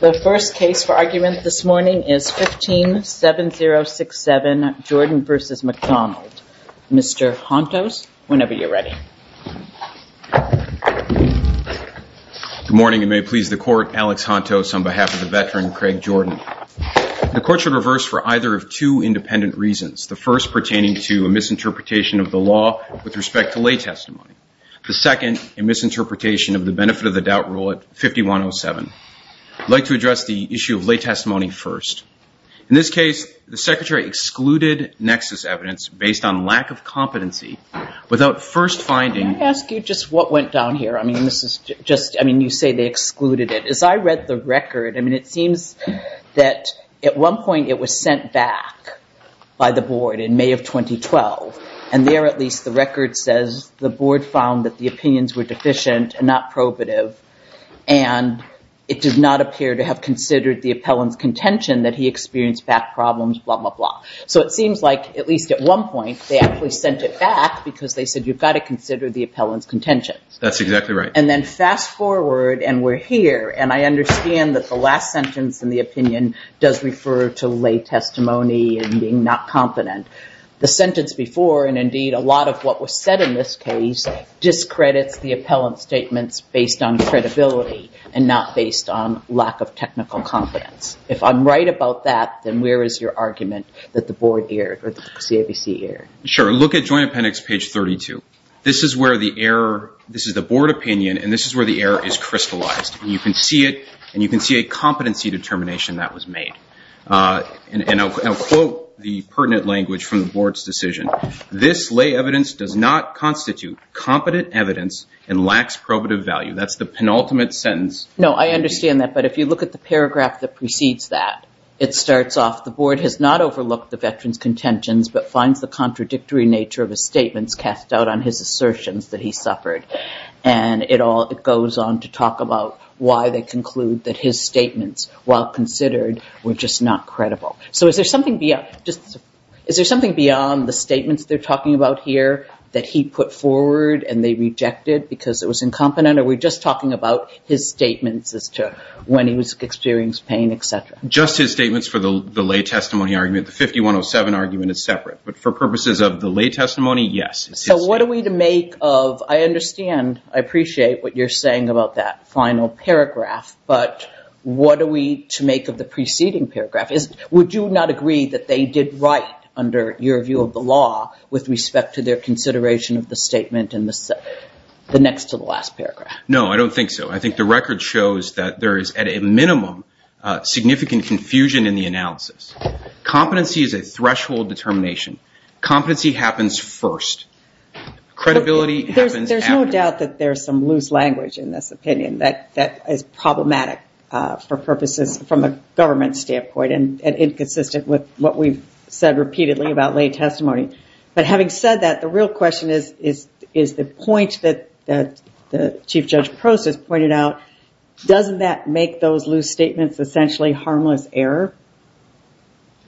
The first case for argument this morning is 157067, Jordan v. McDonald. Mr. Hontos, whenever you're ready. Good morning and may it please the court, Alex Hontos on behalf of the veteran, Craig Jordan. The court should reverse for either of two independent reasons. The first pertaining to a misinterpretation of the law with respect to lay testimony. The second, a misinterpretation of the benefit of the doubt rule at 5107. I'd like to address the issue of lay testimony first. In this case, the secretary excluded nexus evidence based on lack of competency without first finding- Can I ask you just what went down here? I mean, this is just, I mean, you say they excluded it. As I read the record, I mean, it seems that at one point it was sent back by the record says the board found that the opinions were deficient and not probative and it did not appear to have considered the appellant's contention that he experienced back problems, blah, blah, blah. So it seems like at least at one point they actually sent it back because they said you've got to consider the appellant's contention. That's exactly right. And then fast forward and we're here and I understand that the last sentence in the opinion does refer to lay testimony and being not competent. The sentence before, and indeed a lot of what was said in this case, discredits the appellant's statements based on credibility and not based on lack of technical confidence. If I'm right about that, then where is your argument that the board erred or the CAVC erred? Sure. Look at joint appendix page 32. This is where the error, this is the board opinion and this is where the error is crystallized. You can see it and you can see a competency determination that was made. And I'll quote the pertinent language from the board's decision. This lay evidence does not constitute competent evidence and lacks probative value. That's the penultimate sentence. No, I understand that. But if you look at the paragraph that precedes that, it starts off the board has not overlooked the veteran's contentions, but finds the contradictory nature of his statements cast out on his assertions that he suffered. And it all goes on to talk about why they conclude that his statements, while considered, were just not credible. So is there something beyond the statements they're talking about here that he put forward and they rejected because it was incompetent? Are we just talking about his statements as to when he was experiencing pain, et cetera? Just his statements for the lay testimony argument. The 5107 argument is separate. But for purposes of the lay testimony, yes. So what are we to make of, I understand, I appreciate what you're saying about that final paragraph. Would you not agree that they did right under your view of the law with respect to their consideration of the statement in the next to the last paragraph? No, I don't think so. I think the record shows that there is at a minimum significant confusion in the analysis. Competency is a threshold determination. Competency happens first. Credibility happens after. There's no doubt that there's some loose language in this opinion that is problematic for purposes from a government standpoint and inconsistent with what we've said repeatedly about lay testimony. But having said that, the real question is the point that Chief Judge Prost has pointed out. Doesn't that make those loose statements essentially harmless error?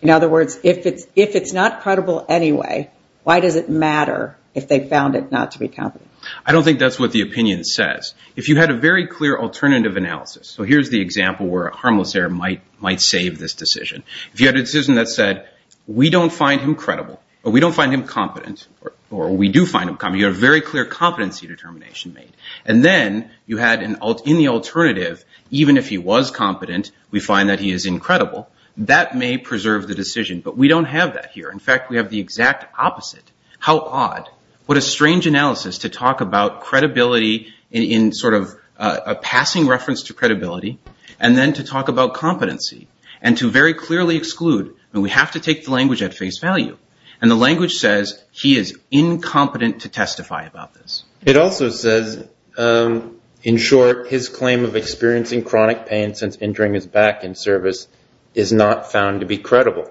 In other words, if it's not credible anyway, why does it matter if they found it not to be competent? I don't think that's what the opinion says. If you had a very clear alternative analysis, so here's the example where a harmless error might save this decision. If you had a decision that said, we don't find him credible, or we don't find him competent, or we do find him competent, you have a very clear competency determination made. And then you had in the alternative, even if he was competent, we find that he is incredible. That may preserve the decision. But we don't have that here. In fact, we have the exact opposite. How odd? What a strange analysis to talk about credibility in sort of a passing reference to credibility, and then to talk about competency, and to very clearly exclude. We have to take the language at face value. And the language says he is incompetent to testify about this. It also says, in short, his claim of experiencing chronic pain since injuring his back in service is not found to be credible.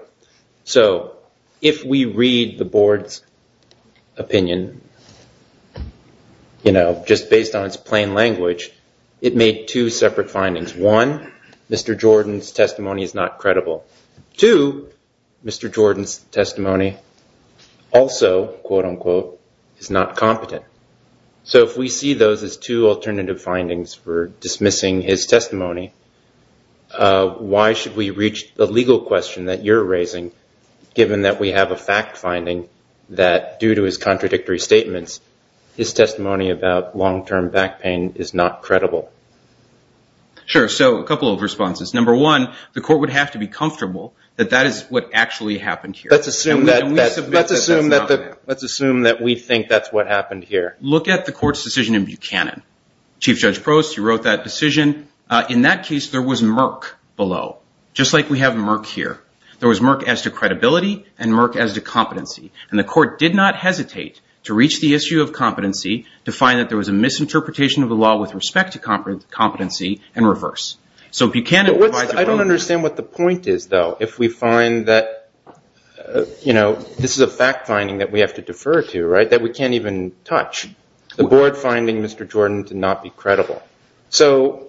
So if we read the board's opinion, you know, just based on its plain language, it made two separate findings. One, Mr. Jordan's testimony is not credible. Two, Mr. Jordan's testimony also, quote, unquote, is not competent. So if we see those as two alternative findings for dismissing his testimony, why should we reach the legal question that you're raising, given that we have a fact finding that, due to his contradictory statements, his testimony about long-term back pain is not credible? Sure. So a couple of responses. Number one, the court would have to be comfortable that that is what actually happened here. Let's assume that we think that's what happened here. Look at the court's decision in Buchanan. Chief Judge Prost, you wrote that decision. In that case, there was Merck below, just like we have Merck here. There was Merck as to credibility and Merck as to competency. And the court did not hesitate to reach the issue of competency to find that there was a misinterpretation of the law with respect to competency and reverse. So Buchanan provides a way to- I don't understand what the point is, though, if we find that, you know, this is a fact finding that we have to defer to, right, that we can't even touch. The board finding Mr. Jordan to not be credible. So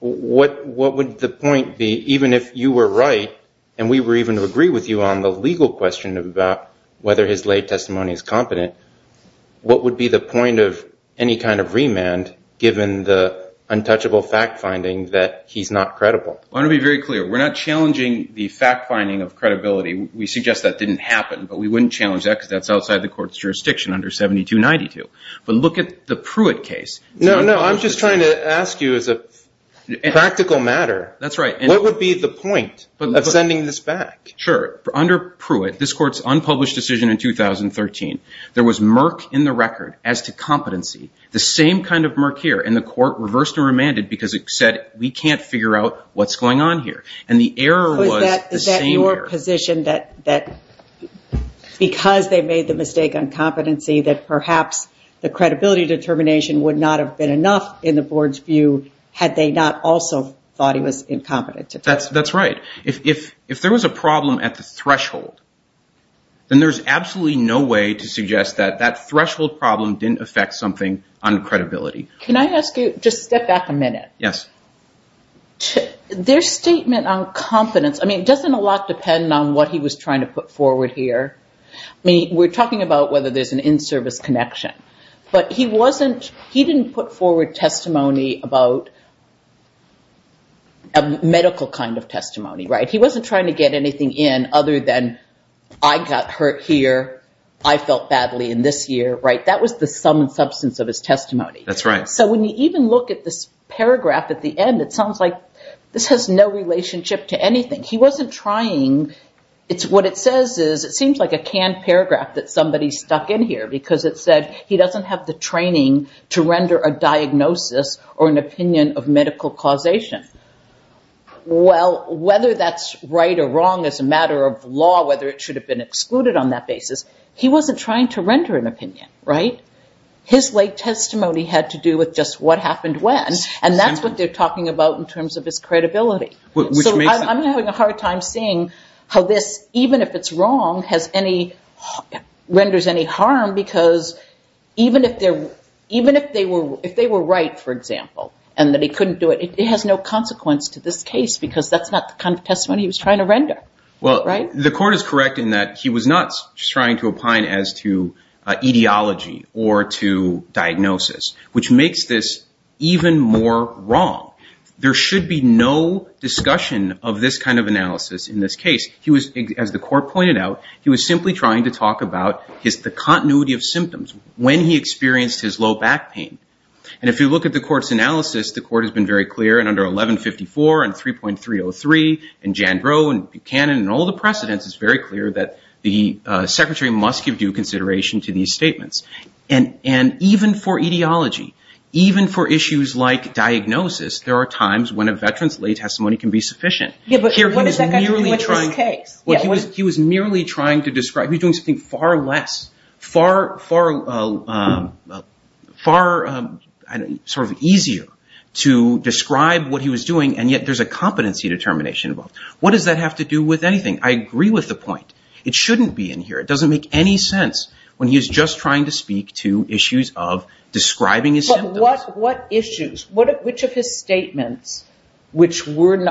what would the point be, even if you were right, and we were even to agree with you on the legal question about whether his lay testimony is competent, what would be the point of any kind of remand, given the untouchable fact finding that he's not credible? I want to be very clear. We're not challenging the fact finding of credibility. We suggest that didn't happen, but we wouldn't challenge that because that's outside the court's jurisdiction under 7292. But look at the Pruitt case. No, no. I'm just trying to ask you as a practical matter. That's right. What would be the point of sending this back? Sure. Under Pruitt, this court's unpublished decision in 2013, there was Merck in the record as to competency, the same kind of Merck here. And the court reversed and remanded because it said, we can't figure out what's going on here. And the error was the same error. The court positioned that because they made the mistake on competency, that perhaps the credibility determination would not have been enough in the board's view, had they not also thought he was incompetent. That's right. If there was a problem at the threshold, then there's absolutely no way to suggest that that threshold problem didn't affect something on credibility. Can I ask you, just step back a minute. Yes. Their statement on competence, I mean, it doesn't a lot depend on what he was trying to put forward here. I mean, we're talking about whether there's an in-service connection. But he didn't put forward testimony about a medical kind of testimony, right? He wasn't trying to get anything in other than, I got hurt here. I felt badly in this year, right? That was the sum and substance of his testimony. That's right. So when you even look at this paragraph at the end, it sounds like this has no relationship to anything. He wasn't trying. What it says is, it seems like a canned paragraph that somebody stuck in here because it said he doesn't have the training to render a diagnosis or an opinion of medical causation. Well, whether that's right or wrong as a matter of law, whether it should have been excluded on that basis, he wasn't trying to render an opinion, right? His late testimony had to do with just what happened when, and that's what they're talking about in terms of his credibility. Which makes sense. So I'm having a hard time seeing how this, even if it's wrong, renders any harm because even if they were right, for example, and that he couldn't do it, it has no consequence to this case because that's not the kind of testimony he was trying to render, right? The court is correct in that he was not trying to opine as to etiology or to diagnosis, which makes this even more wrong. There should be no discussion of this kind of analysis in this case. As the court pointed out, he was simply trying to talk about the continuity of symptoms when he experienced his low back pain. If you look at the court's analysis, the court has been very clear in under 1154 and 3.303 and Jandrow and Buchanan and all the precedents, it's very clear that the secretary must give due consideration to these statements. And even for etiology, even for issues like diagnosis, there are times when a veteran's lay testimony can be sufficient. Yeah, but what does that have to do with this case? He was merely trying to describe, he was doing something far less, far sort of easier to describe what he was doing and yet there's a competency determination involved. What does that have to do with anything? I agree with the point. It shouldn't be in here. It doesn't make any sense when he's just trying to speak to issues of describing his symptoms. What issues? Which of his statements, which would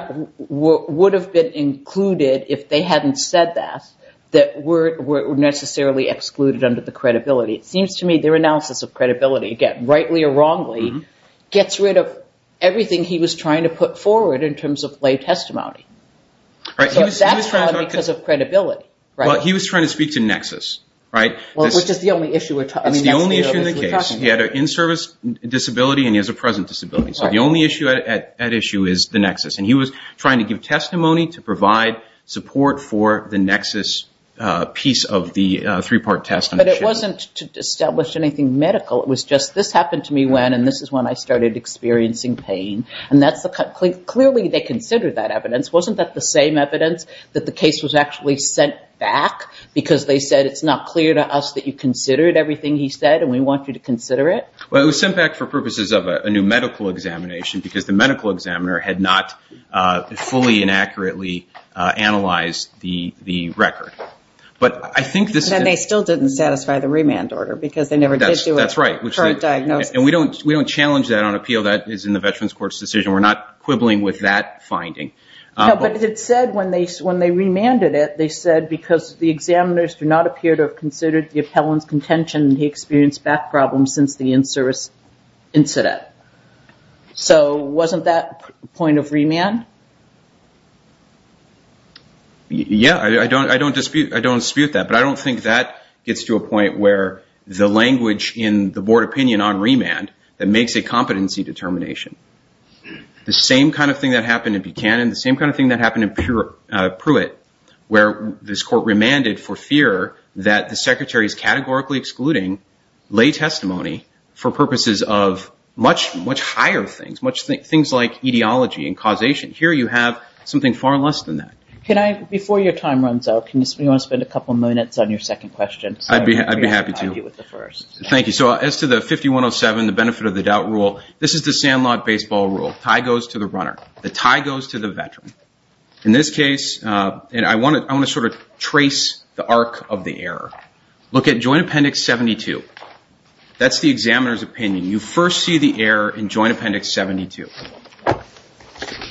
have been included if they hadn't said that, that were necessarily excluded under the credibility? It seems to me their analysis of credibility, again, rightly or wrongly, gets rid of everything he was trying to put forward in terms of lay testimony. That's because of credibility. He was trying to speak to nexus. Which is the only issue we're talking about. It's the only issue in the case. He had an in-service disability and he has a present disability. So the only issue at issue is the nexus. And he was trying to give testimony to provide support for the nexus piece of the three-part test. But it wasn't to establish anything medical. It was just, this happened to me when, and this is when I started experiencing pain. Clearly they considered that evidence. Wasn't that the same evidence that the case was actually sent back because they said it's not clear to us that you considered everything he said and we want you to consider it? Well, it was sent back for purposes of a new medical examination because the medical examiner had not fully and accurately analyzed the record. But I think this is... And they still didn't satisfy the remand order because they never did do a current diagnosis. That's right. And we don't challenge that on appeal. That is in the Veterans Court's decision. We're not quibbling with that finding. But it said when they remanded it, they said because the examiners do not appear to have considered the appellant's contention, he experienced back problems since the in-service incident. So wasn't that point of remand? Yeah, I don't dispute that. But I don't think that gets to a point where the language in the board opinion on remand that makes a competency determination. The same kind of thing that happened in Buchanan, the same kind of thing that happened in Pruitt, where this court remanded for fear that the secretary is categorically excluding lay testimony for purposes of much higher things, things like etiology and causation. Here you have something far less than that. Before your time runs out, do you want to spend a couple of minutes on your second question? I'd be happy to. Thank you. So as to the 5107, the benefit of the doubt rule, this is the Sandlot baseball rule. Tie goes to the runner. The tie goes to the veteran. In this case, I want to sort of trace the arc of the error. Look at Joint Appendix 72. That's the examiner's opinion. You first see the error in Joint Appendix 72.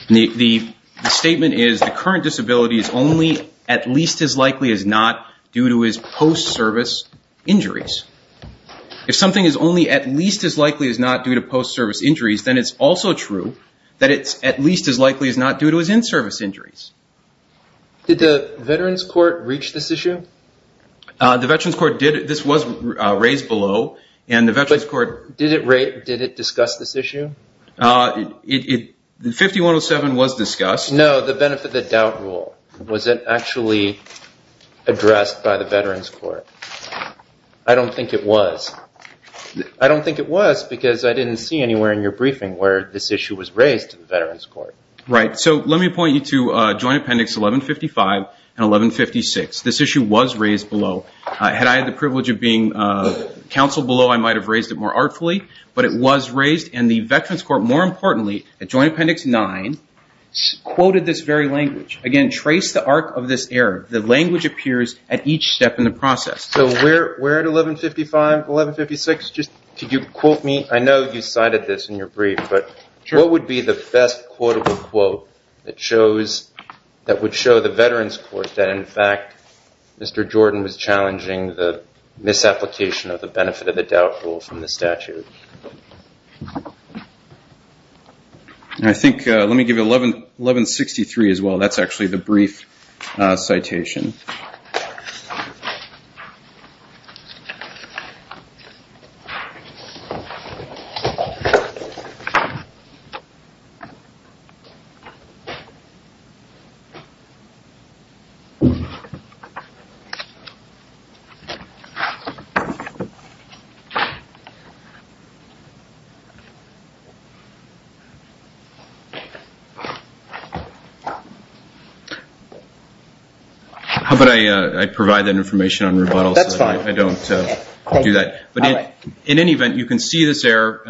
The statement is the current disability is only at least as likely as not due to his post-service injuries. If something is only at least as likely as not due to post-service injuries, then it's also true that it's at least as likely as not due to his in-service injuries. Did the Veterans Court reach this issue? The Veterans Court did. This was raised below. But did it discuss this issue? 5107 was discussed. No, the benefit of the doubt rule. Was it actually addressed by the Veterans Court? I don't think it was. I don't think it was because I didn't see anywhere in your briefing where this issue was raised to the Veterans Court. Right. So let me point you to Joint Appendix 1155 and 1156. This issue was raised below. Had I had the privilege of being counseled below, I might have raised it more artfully. But it was raised. And the Veterans Court, more importantly, at Joint Appendix 9, quoted this very language. Again, trace the arc of this error. The language appears at each step in the process. So where at 1155, 1156? Could you quote me? I know you cited this in your brief, but what would be the best quotable quote that would show the Veterans Court that, in fact, Mr. Jordan was challenging the misapplication of the benefit of the doubt rule from the statute? I think, let me give you 1163 as well. That's actually the brief citation. How about I provide that information on rebuttal so I don't do that? In any event, you can see this error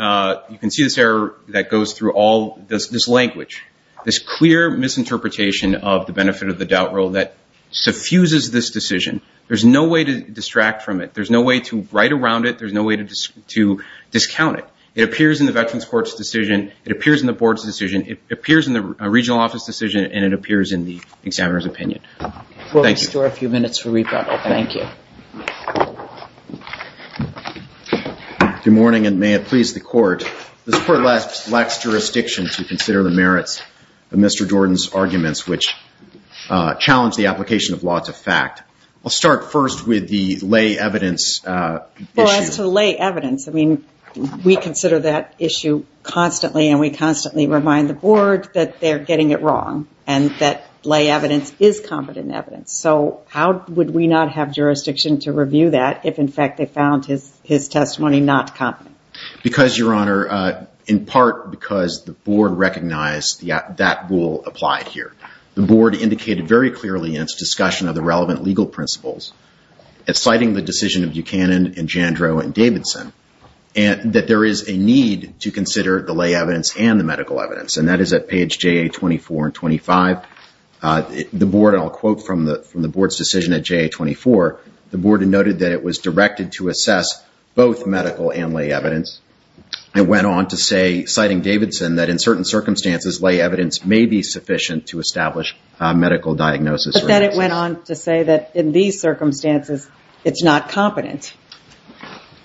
that goes through all this language. This clear misinterpretation of the benefit of the doubt rule that suffuses this decision. There's no way to distract from it. There's no way to write around it. There's no way to discount it. It appears in the Veterans Court's decision. It appears in the board's decision. It appears in the regional office decision, and it appears in the examiner's opinion. We'll restore a few minutes for rebuttal. Thank you. Good morning, and may it please the court. This court lacks jurisdiction to consider the merits of Mr. Jordan's arguments, which challenge the application of law to fact. I'll start first with the lay evidence issue. As to lay evidence, we consider that issue constantly, and we constantly remind the board that they're getting it wrong, and that lay evidence is competent evidence. How would we not have jurisdiction to review that if, in fact, they found his testimony not competent? Because, Your Honor, in part because the board recognized that rule applied here. The board indicated very clearly in its discussion of the relevant legal principles, citing the decision of Buchanan and Jandro and Davidson, that there is a need to consider the lay evidence and the medical evidence, and that is at page JA24 and 25. The board, and I'll quote from the board's decision at JA24, the board had noted that it was directed to assess both medical and lay evidence. It went on to say, citing Davidson, that in certain circumstances, lay evidence may be sufficient to establish medical diagnosis. But then it went on to say that in these circumstances, it's not competent.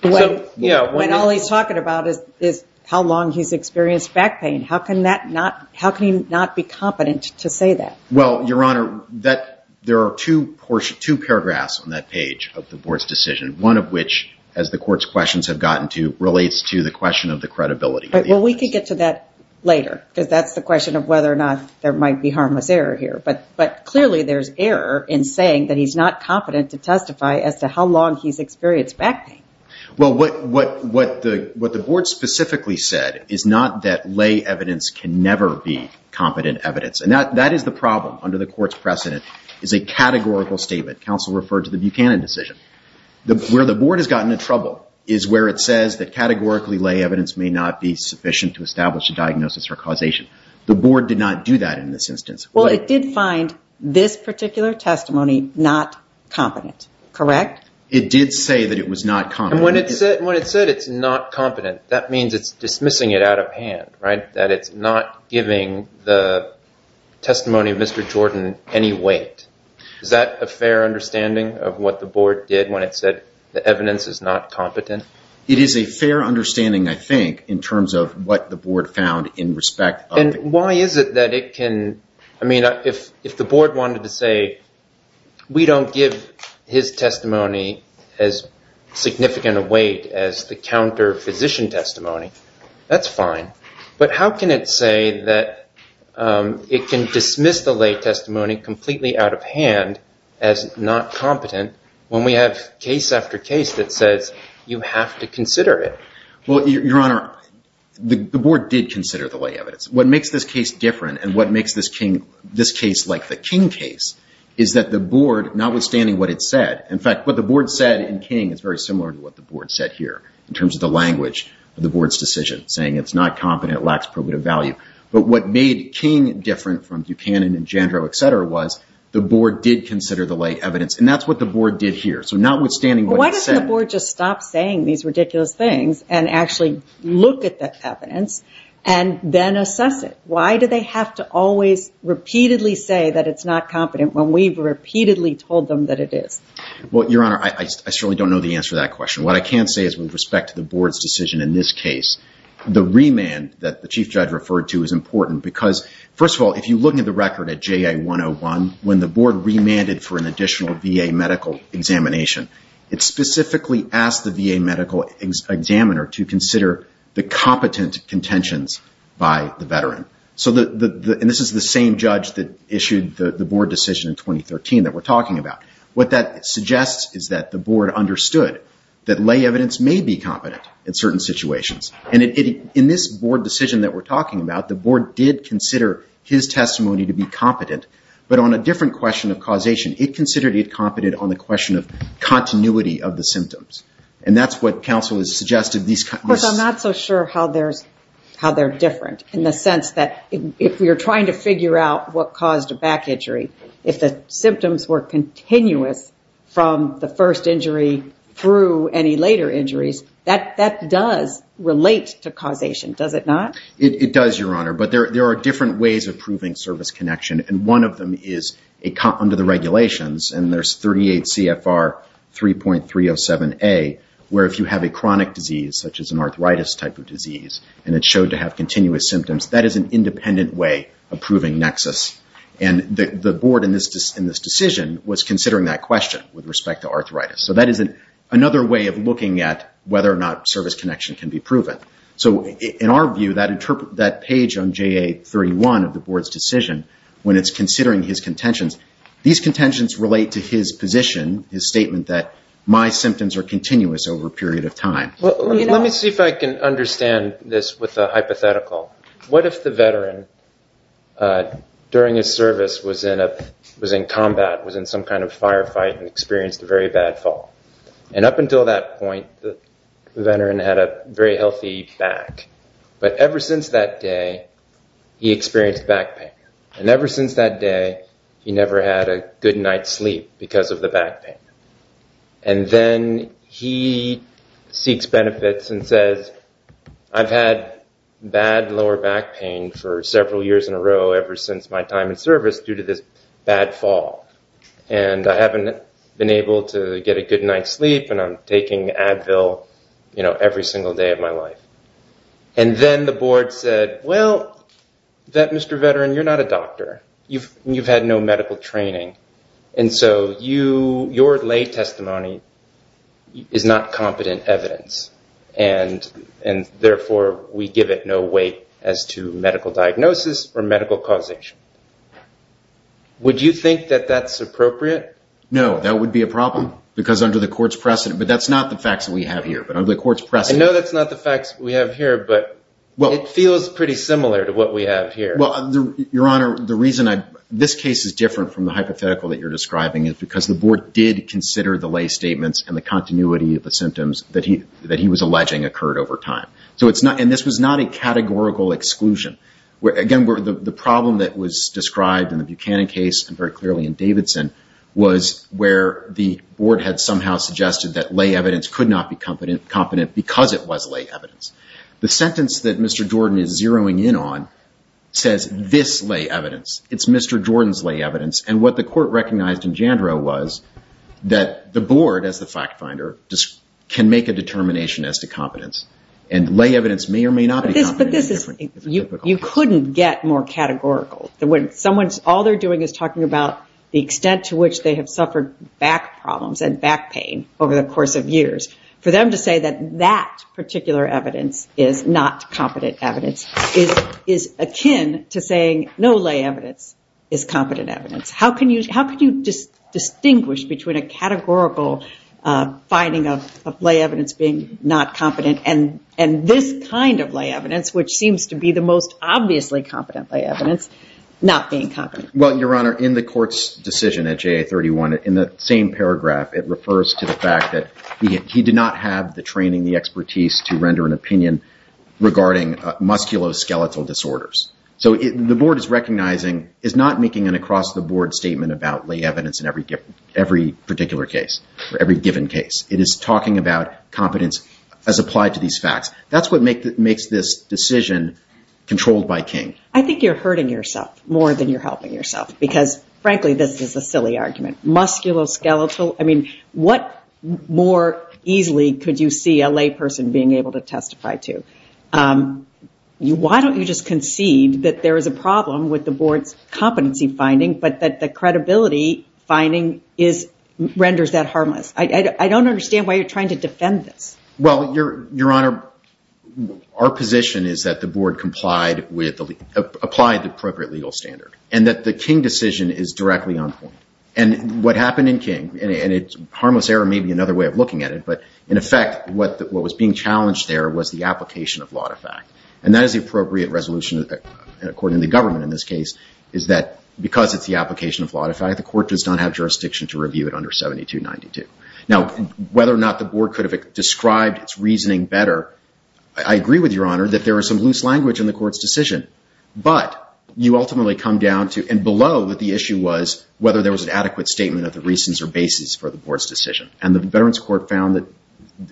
When all he's talking about is how long he's experienced back pain. How can he not be competent to say that? Well, Your Honor, there are two paragraphs on that page of the board's decision, one of which, as the court's questions have gotten to, relates to the question of the credibility. We can get to that later, because that's the question of whether or not there might be harmless error here. But clearly there's error in saying that he's not competent to testify as to how long he's experienced back pain. Well, what the board specifically said is not that lay evidence can never be competent evidence. And that is the problem under the court's precedent, is a categorical statement. Counsel referred to the Buchanan decision. Where the board has gotten in trouble is where it says that categorically lay evidence may not be sufficient to establish a diagnosis or causation. The board did not do that in this instance. Well, it did find this particular testimony not competent, correct? It did say that it was not competent. When it said it's not competent, that means it's dismissing it out of hand, right? That it's not giving the testimony of Mr. Jordan any weight. Is that a fair understanding of what the board did when it said the evidence is not competent? It is a fair understanding, I think, in terms of what the board found in respect of the court. Why is it that it can... I mean, if the board wanted to say, we don't give his testimony as significant a weight as the counter-physician testimony, that's fine. But how can it say that it can dismiss the lay testimony completely out of hand as not competent when we have case after case that says you have to consider it? Well, Your Honor, the board did consider the lay evidence. What makes this case different and what makes this case like the King case is that the board, notwithstanding what it said... The board said in King is very similar to what the board said here in terms of the language of the board's decision, saying it's not competent, it lacks probative value. But what made King different from Buchanan and Jandro, et cetera, was the board did consider the lay evidence. And that's what the board did here. So notwithstanding what it said... Why doesn't the board just stop saying these ridiculous things and actually look at the evidence and then assess it? Why do they have to always repeatedly say that it's not competent when we've repeatedly told them that it is? Well, Your Honor, I certainly don't know the answer to that question. What I can say is with respect to the board's decision in this case, the remand that the chief judge referred to is important because first of all, if you look at the record at JA 101, when the board remanded for an additional VA medical examination, it specifically asked the VA medical examiner to consider the competent contentions by the veteran. And this is the same judge that issued the board decision in 2013 that we're talking about. What that suggests is that the board understood that lay evidence may be competent in certain situations. And in this board decision that we're talking about, the board did consider his testimony to be competent, but on a different question of causation. It considered it competent on the question of continuity of the symptoms. And that's what counsel has suggested. Of course, I'm not so sure how they're different in the sense that if you're trying to figure out what caused a back injury, if the symptoms were continuous from the first injury through any later injuries, that does relate to causation, does it not? It does, Your Honor, but there are different ways of proving service connection. And one of them is under the regulations, and there's 38 CFR 3.307A, where if you have a chronic disease such as an arthritis type of disease, and it showed to have continuous symptoms, that is an independent way of proving nexus. And the board in this decision was considering that question with respect to arthritis. So that is another way of looking at whether or not service connection can be proven. So in our view, that page on JA31 of the board's decision, when it's considering his contentions, these contentions relate to his position, his statement that my symptoms are continuous over a period of time. Let me see if I can understand this with a hypothetical. What if the veteran during his service was in combat, was in some kind of firefight and experienced a very bad fall? And up until that point, the veteran had a very healthy back. But ever since that day, he experienced back pain. And ever since that day, he never had a good night's sleep because of the back pain. And then he seeks benefits and says, I've had bad lower back pain for several years in a row ever since my time in service due to this bad fall. And I haven't been able to get a good night's sleep, and I'm taking Advil every single day of my life. And then the board said, well, that Mr. Veteran, you're not a doctor. You've had no medical training. And so your lay testimony is not competent evidence. And therefore, we give it no weight as to medical diagnosis or medical causation. Would you think that that's appropriate? No, that would be a problem because under the court's precedent. But that's not the facts that we have here. But under the court's precedent... I know that's not the facts we have here, but it feels pretty similar to what we have here. Well, Your Honor, the reason this case is different from the hypothetical that you're describing is because the board did consider the lay statements and the continuity of the symptoms that he was alleging occurred over time. And this was not a categorical exclusion. The problem that was described in the Buchanan case and very clearly in Davidson was where the board had somehow suggested that lay evidence could not be competent because it was lay evidence. It's Mr. Jordan's lay evidence. And what the court recognized in Jandro was that the board as the fact finder can make a determination as to competence. And lay evidence may or may not be competent. You couldn't get more categorical. All they're doing is talking about the extent to which they have suffered back problems and back pain over the course of years. For them to say that that particular evidence is not competent evidence is akin to saying no lay evidence is competent evidence. How can you distinguish between a categorical finding of lay evidence being not competent and this kind of lay evidence, which seems to be the most obviously competent evidence, not being competent? Well, Your Honor, in the court's decision at JA-31, in the same paragraph, it refers to the fact that he did not have the training, the expertise to render an opinion regarding musculoskeletal disorders. So the board is recognizing, is not making an across-the-board statement about lay evidence in every particular case or every given case. It is talking about competence as applied to these facts. That's what makes this decision controlled by King. I think you're hurting yourself more than you're helping yourself because, frankly, this is a silly argument. Musculoskeletal, I mean, what more easily could you see a lay person being able to testify to? Why don't you just concede that there is a problem with the board's competency finding, but that the credibility finding renders that harmless? I don't understand why you're trying to defend this. Well, Your Honor, our position is that the board complied with, applied the appropriate legal standard, and that the King decision is directly on point. And what happened in King, and harmless error may be another way of looking at it, but in effect, what was being challenged there was the application of law to fact. And that is the appropriate resolution according to the government in this case, is that because it's the application of law to fact, the court does not have jurisdiction to review it under 7292. Now whether or not the board could have described its reasoning better, I agree with Your Honor that there is some loose language in the court's decision. But you ultimately come down to, and below what the issue was, whether there was an adequate statement of the reasons or basis for the board's decision. And the Veterans Court found that,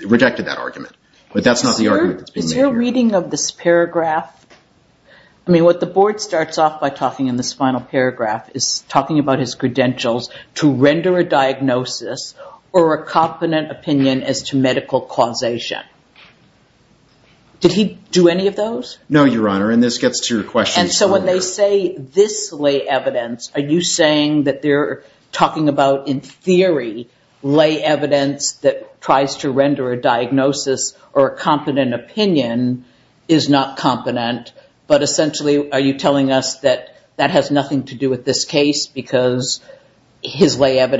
rejected that argument. But that's not the argument that's being made here. Is your reading of this paragraph, I mean, what the board starts off by talking in this final paragraph is talking about his credentials to render a diagnosis or a confident opinion as to medical causation. Did he do any of those? No, Your Honor, and this gets to your question. And so when they say this lay evidence, are you saying that they're talking about in theory lay evidence that tries to render a diagnosis or a confident opinion is not confident, but essentially are you telling us that that has nothing to do with this case because his lay Well,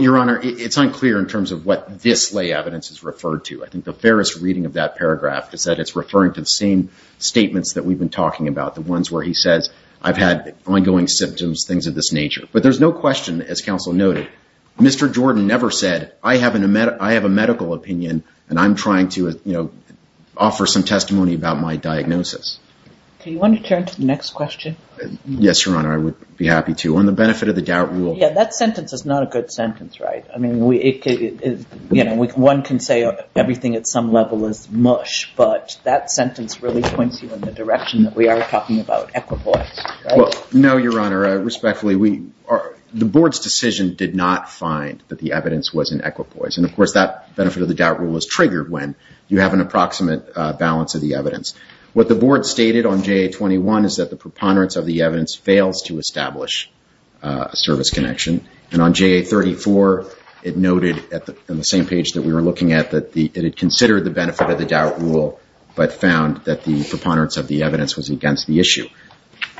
Your Honor, it's unclear in terms of what this lay evidence is referred to. I think the fairest reading of that paragraph is that it's referring to the same statements that we've been talking about, the ones where he says, I've had ongoing symptoms, things of this nature. But there's no question, as counsel noted, Mr. Jordan never said, I have a medical opinion and I'm trying to, you know, offer some testimony about my diagnosis. Do you want to turn to the next question? Yes, Your Honor, I would be happy to. On the benefit of the doubt rule. Yeah, that sentence is not a good sentence, right? I mean, one can say everything at some level is mush, but that sentence really points you in the direction that we are talking about equipoise. Well, no, Your Honor, respectfully, the board's decision did not find that the evidence was in equipoise. And of course, that benefit of the doubt rule is triggered when you have an approximate balance of the evidence. What the board stated on JA-21 is that the preponderance of the evidence fails to establish a service connection. And on JA-34, it noted in the same page that we were looking at, that it had considered the benefit of the doubt rule, but found that the preponderance of the evidence was against the issue.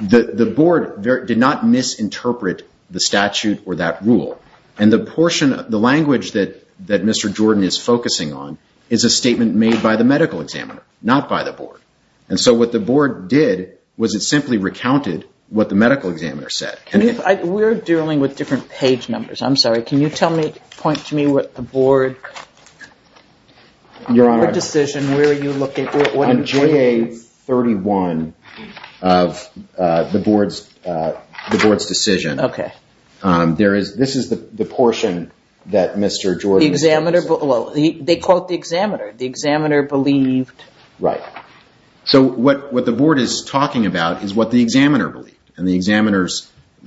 The board did not misinterpret the statute or that rule. And the portion, the language that Mr. Jordan is focusing on is a statement made by the medical examiner, not by the board. And so what the board did was it simply recounted what the medical examiner said. We're dealing with different page numbers. I'm sorry. Can you tell me, point to me what the board decision, where are you looking at? On JA-31 of the board's decision, there is, this is the portion that Mr. Jordan... The examiner, well, they quote the examiner. The examiner believed... Right. So what the board is talking about is what the examiner believed. And the examiner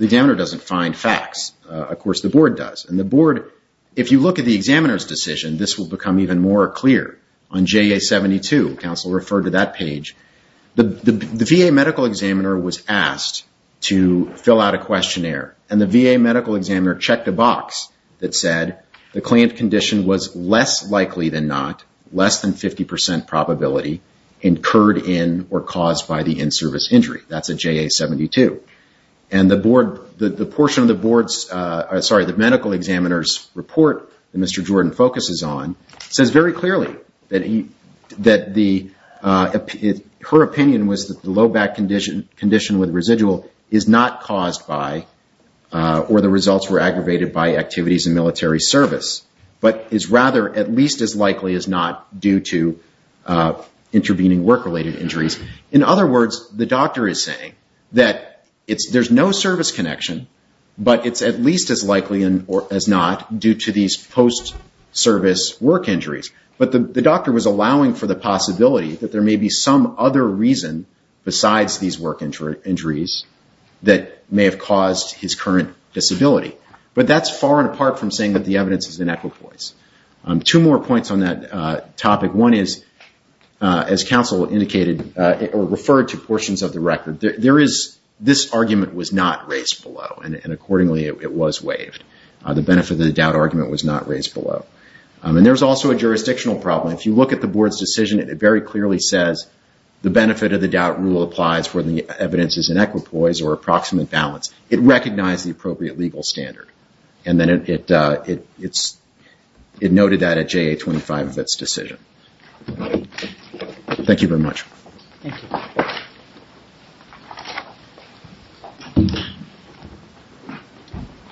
doesn't find facts. Of course, the board does. And the board, if you look at the examiner's decision, this will become even more clear. On JA-72, counsel referred to that page, the VA medical examiner was asked to fill out a questionnaire. And the VA medical examiner checked a box that said the client condition was less likely than not, less than 50% probability, incurred in or caused by the in-service injury. That's a JA-72. And the board, the portion of the board's, sorry, the medical examiner's report that Mr. Jordan focuses on says very clearly that the, her opinion was that the low back condition with residual is not caused by, or the results were aggravated by activities in military service, but is rather at least as likely as not due to intervening work-related injuries. In other words, the doctor is saying that there's no service connection, but it's at least as likely as not due to these post-service work injuries. But the doctor was allowing for the possibility that there may be some other reason besides these work injuries that may have caused his current disability. But that's far and apart from saying that the evidence is an equipoise. Two more points on that topic. One is, as counsel indicated, or referred to portions of the record, there is, this argument was not raised below, and accordingly it was waived. The benefit of the doubt argument was not raised below. And there's also a jurisdictional problem. If you look at the board's decision, it very clearly says, the benefit of the doubt rule applies where the evidence is an equipoise or approximate balance. It recognized the appropriate legal standard. And then it noted that at JA-25 of its decision. Thank you very much. Thank you.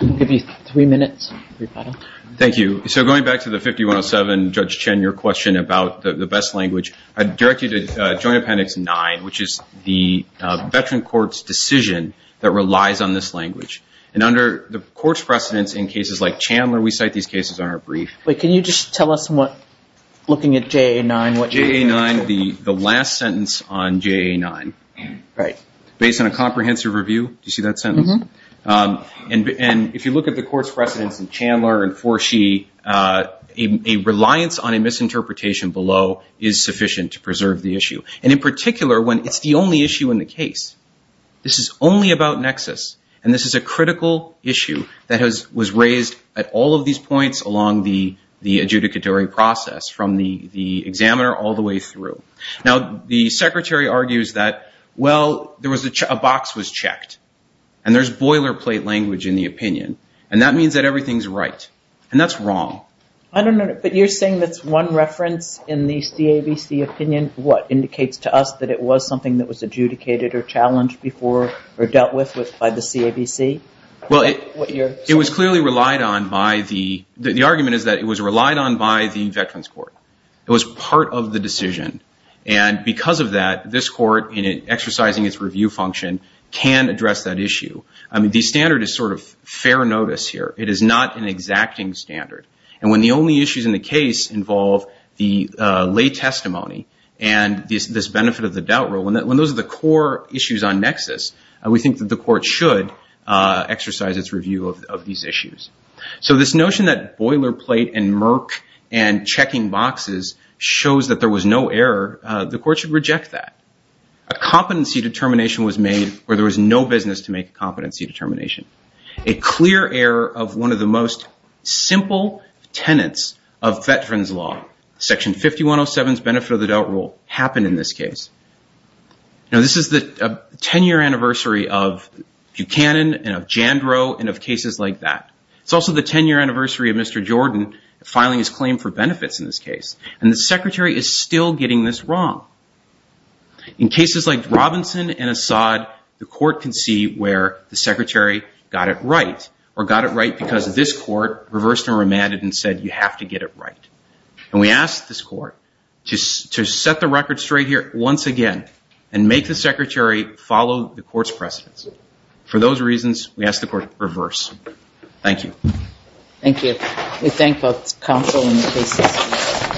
I'll give you three minutes, rebuttal. Thank you. So going back to the 5107, Judge Chen, your question about the best language, I'd direct you to Joint Appendix 9, which is the veteran court's decision that relies on this language. And under the court's precedence in cases like Chandler, we cite these cases on our brief. Wait, can you just tell us what, looking at JA-9, what you mean? JA-9, the last sentence on JA-9, based on a comprehensive review. Do you see that sentence? And if you look at the court's precedence in Chandler and Forshee, a reliance on a misinterpretation below is sufficient to preserve the issue. And in particular, when it's the only issue in the case. This is only about nexus. And this is a critical issue that was raised at all of these points along the adjudicatory process, from the examiner all the way through. Now the secretary argues that, well, a box was checked. And there's boilerplate language in the opinion. And that means that everything's right. And that's wrong. I don't know. But you're saying that's one reference in the CABC opinion. What indicates to us that it was something that was adjudicated or challenged before or dealt with by the CABC? Well, it was clearly relied on by the, the argument is that it was relied on by the veterans court. It was part of the decision. And because of that, this court, in exercising its review function, can address that issue. I mean, the standard is sort of fair notice here. It is not an exacting standard. And when the only issues in the case involve the lay testimony and this benefit of the doubt rule, when those are the core issues on nexus, we think that the court should exercise its review of these issues. So this notion that boilerplate and murk and checking boxes shows that there was no error, the court should reject that. A competency determination was made where there was no business to make a competency determination. A clear error of one of the most simple tenets of veterans law, section 5107's benefit of the doubt rule, happened in this case. Now, this is the 10-year anniversary of Buchanan and of Jandrow and of cases like that. It's also the 10-year anniversary of Mr. Jordan filing his claim for benefits in this case. And the secretary is still getting this wrong. In cases like Robinson and Assad, the court can see where the secretary got it right, or got it right because this court reversed and remanded and said, you have to get it right. And we ask this court to set the record straight here once again and make the secretary follow the court's precedence. For those reasons, we ask the court to reverse. Thank you. Thank you. We thank both counsel and the cases.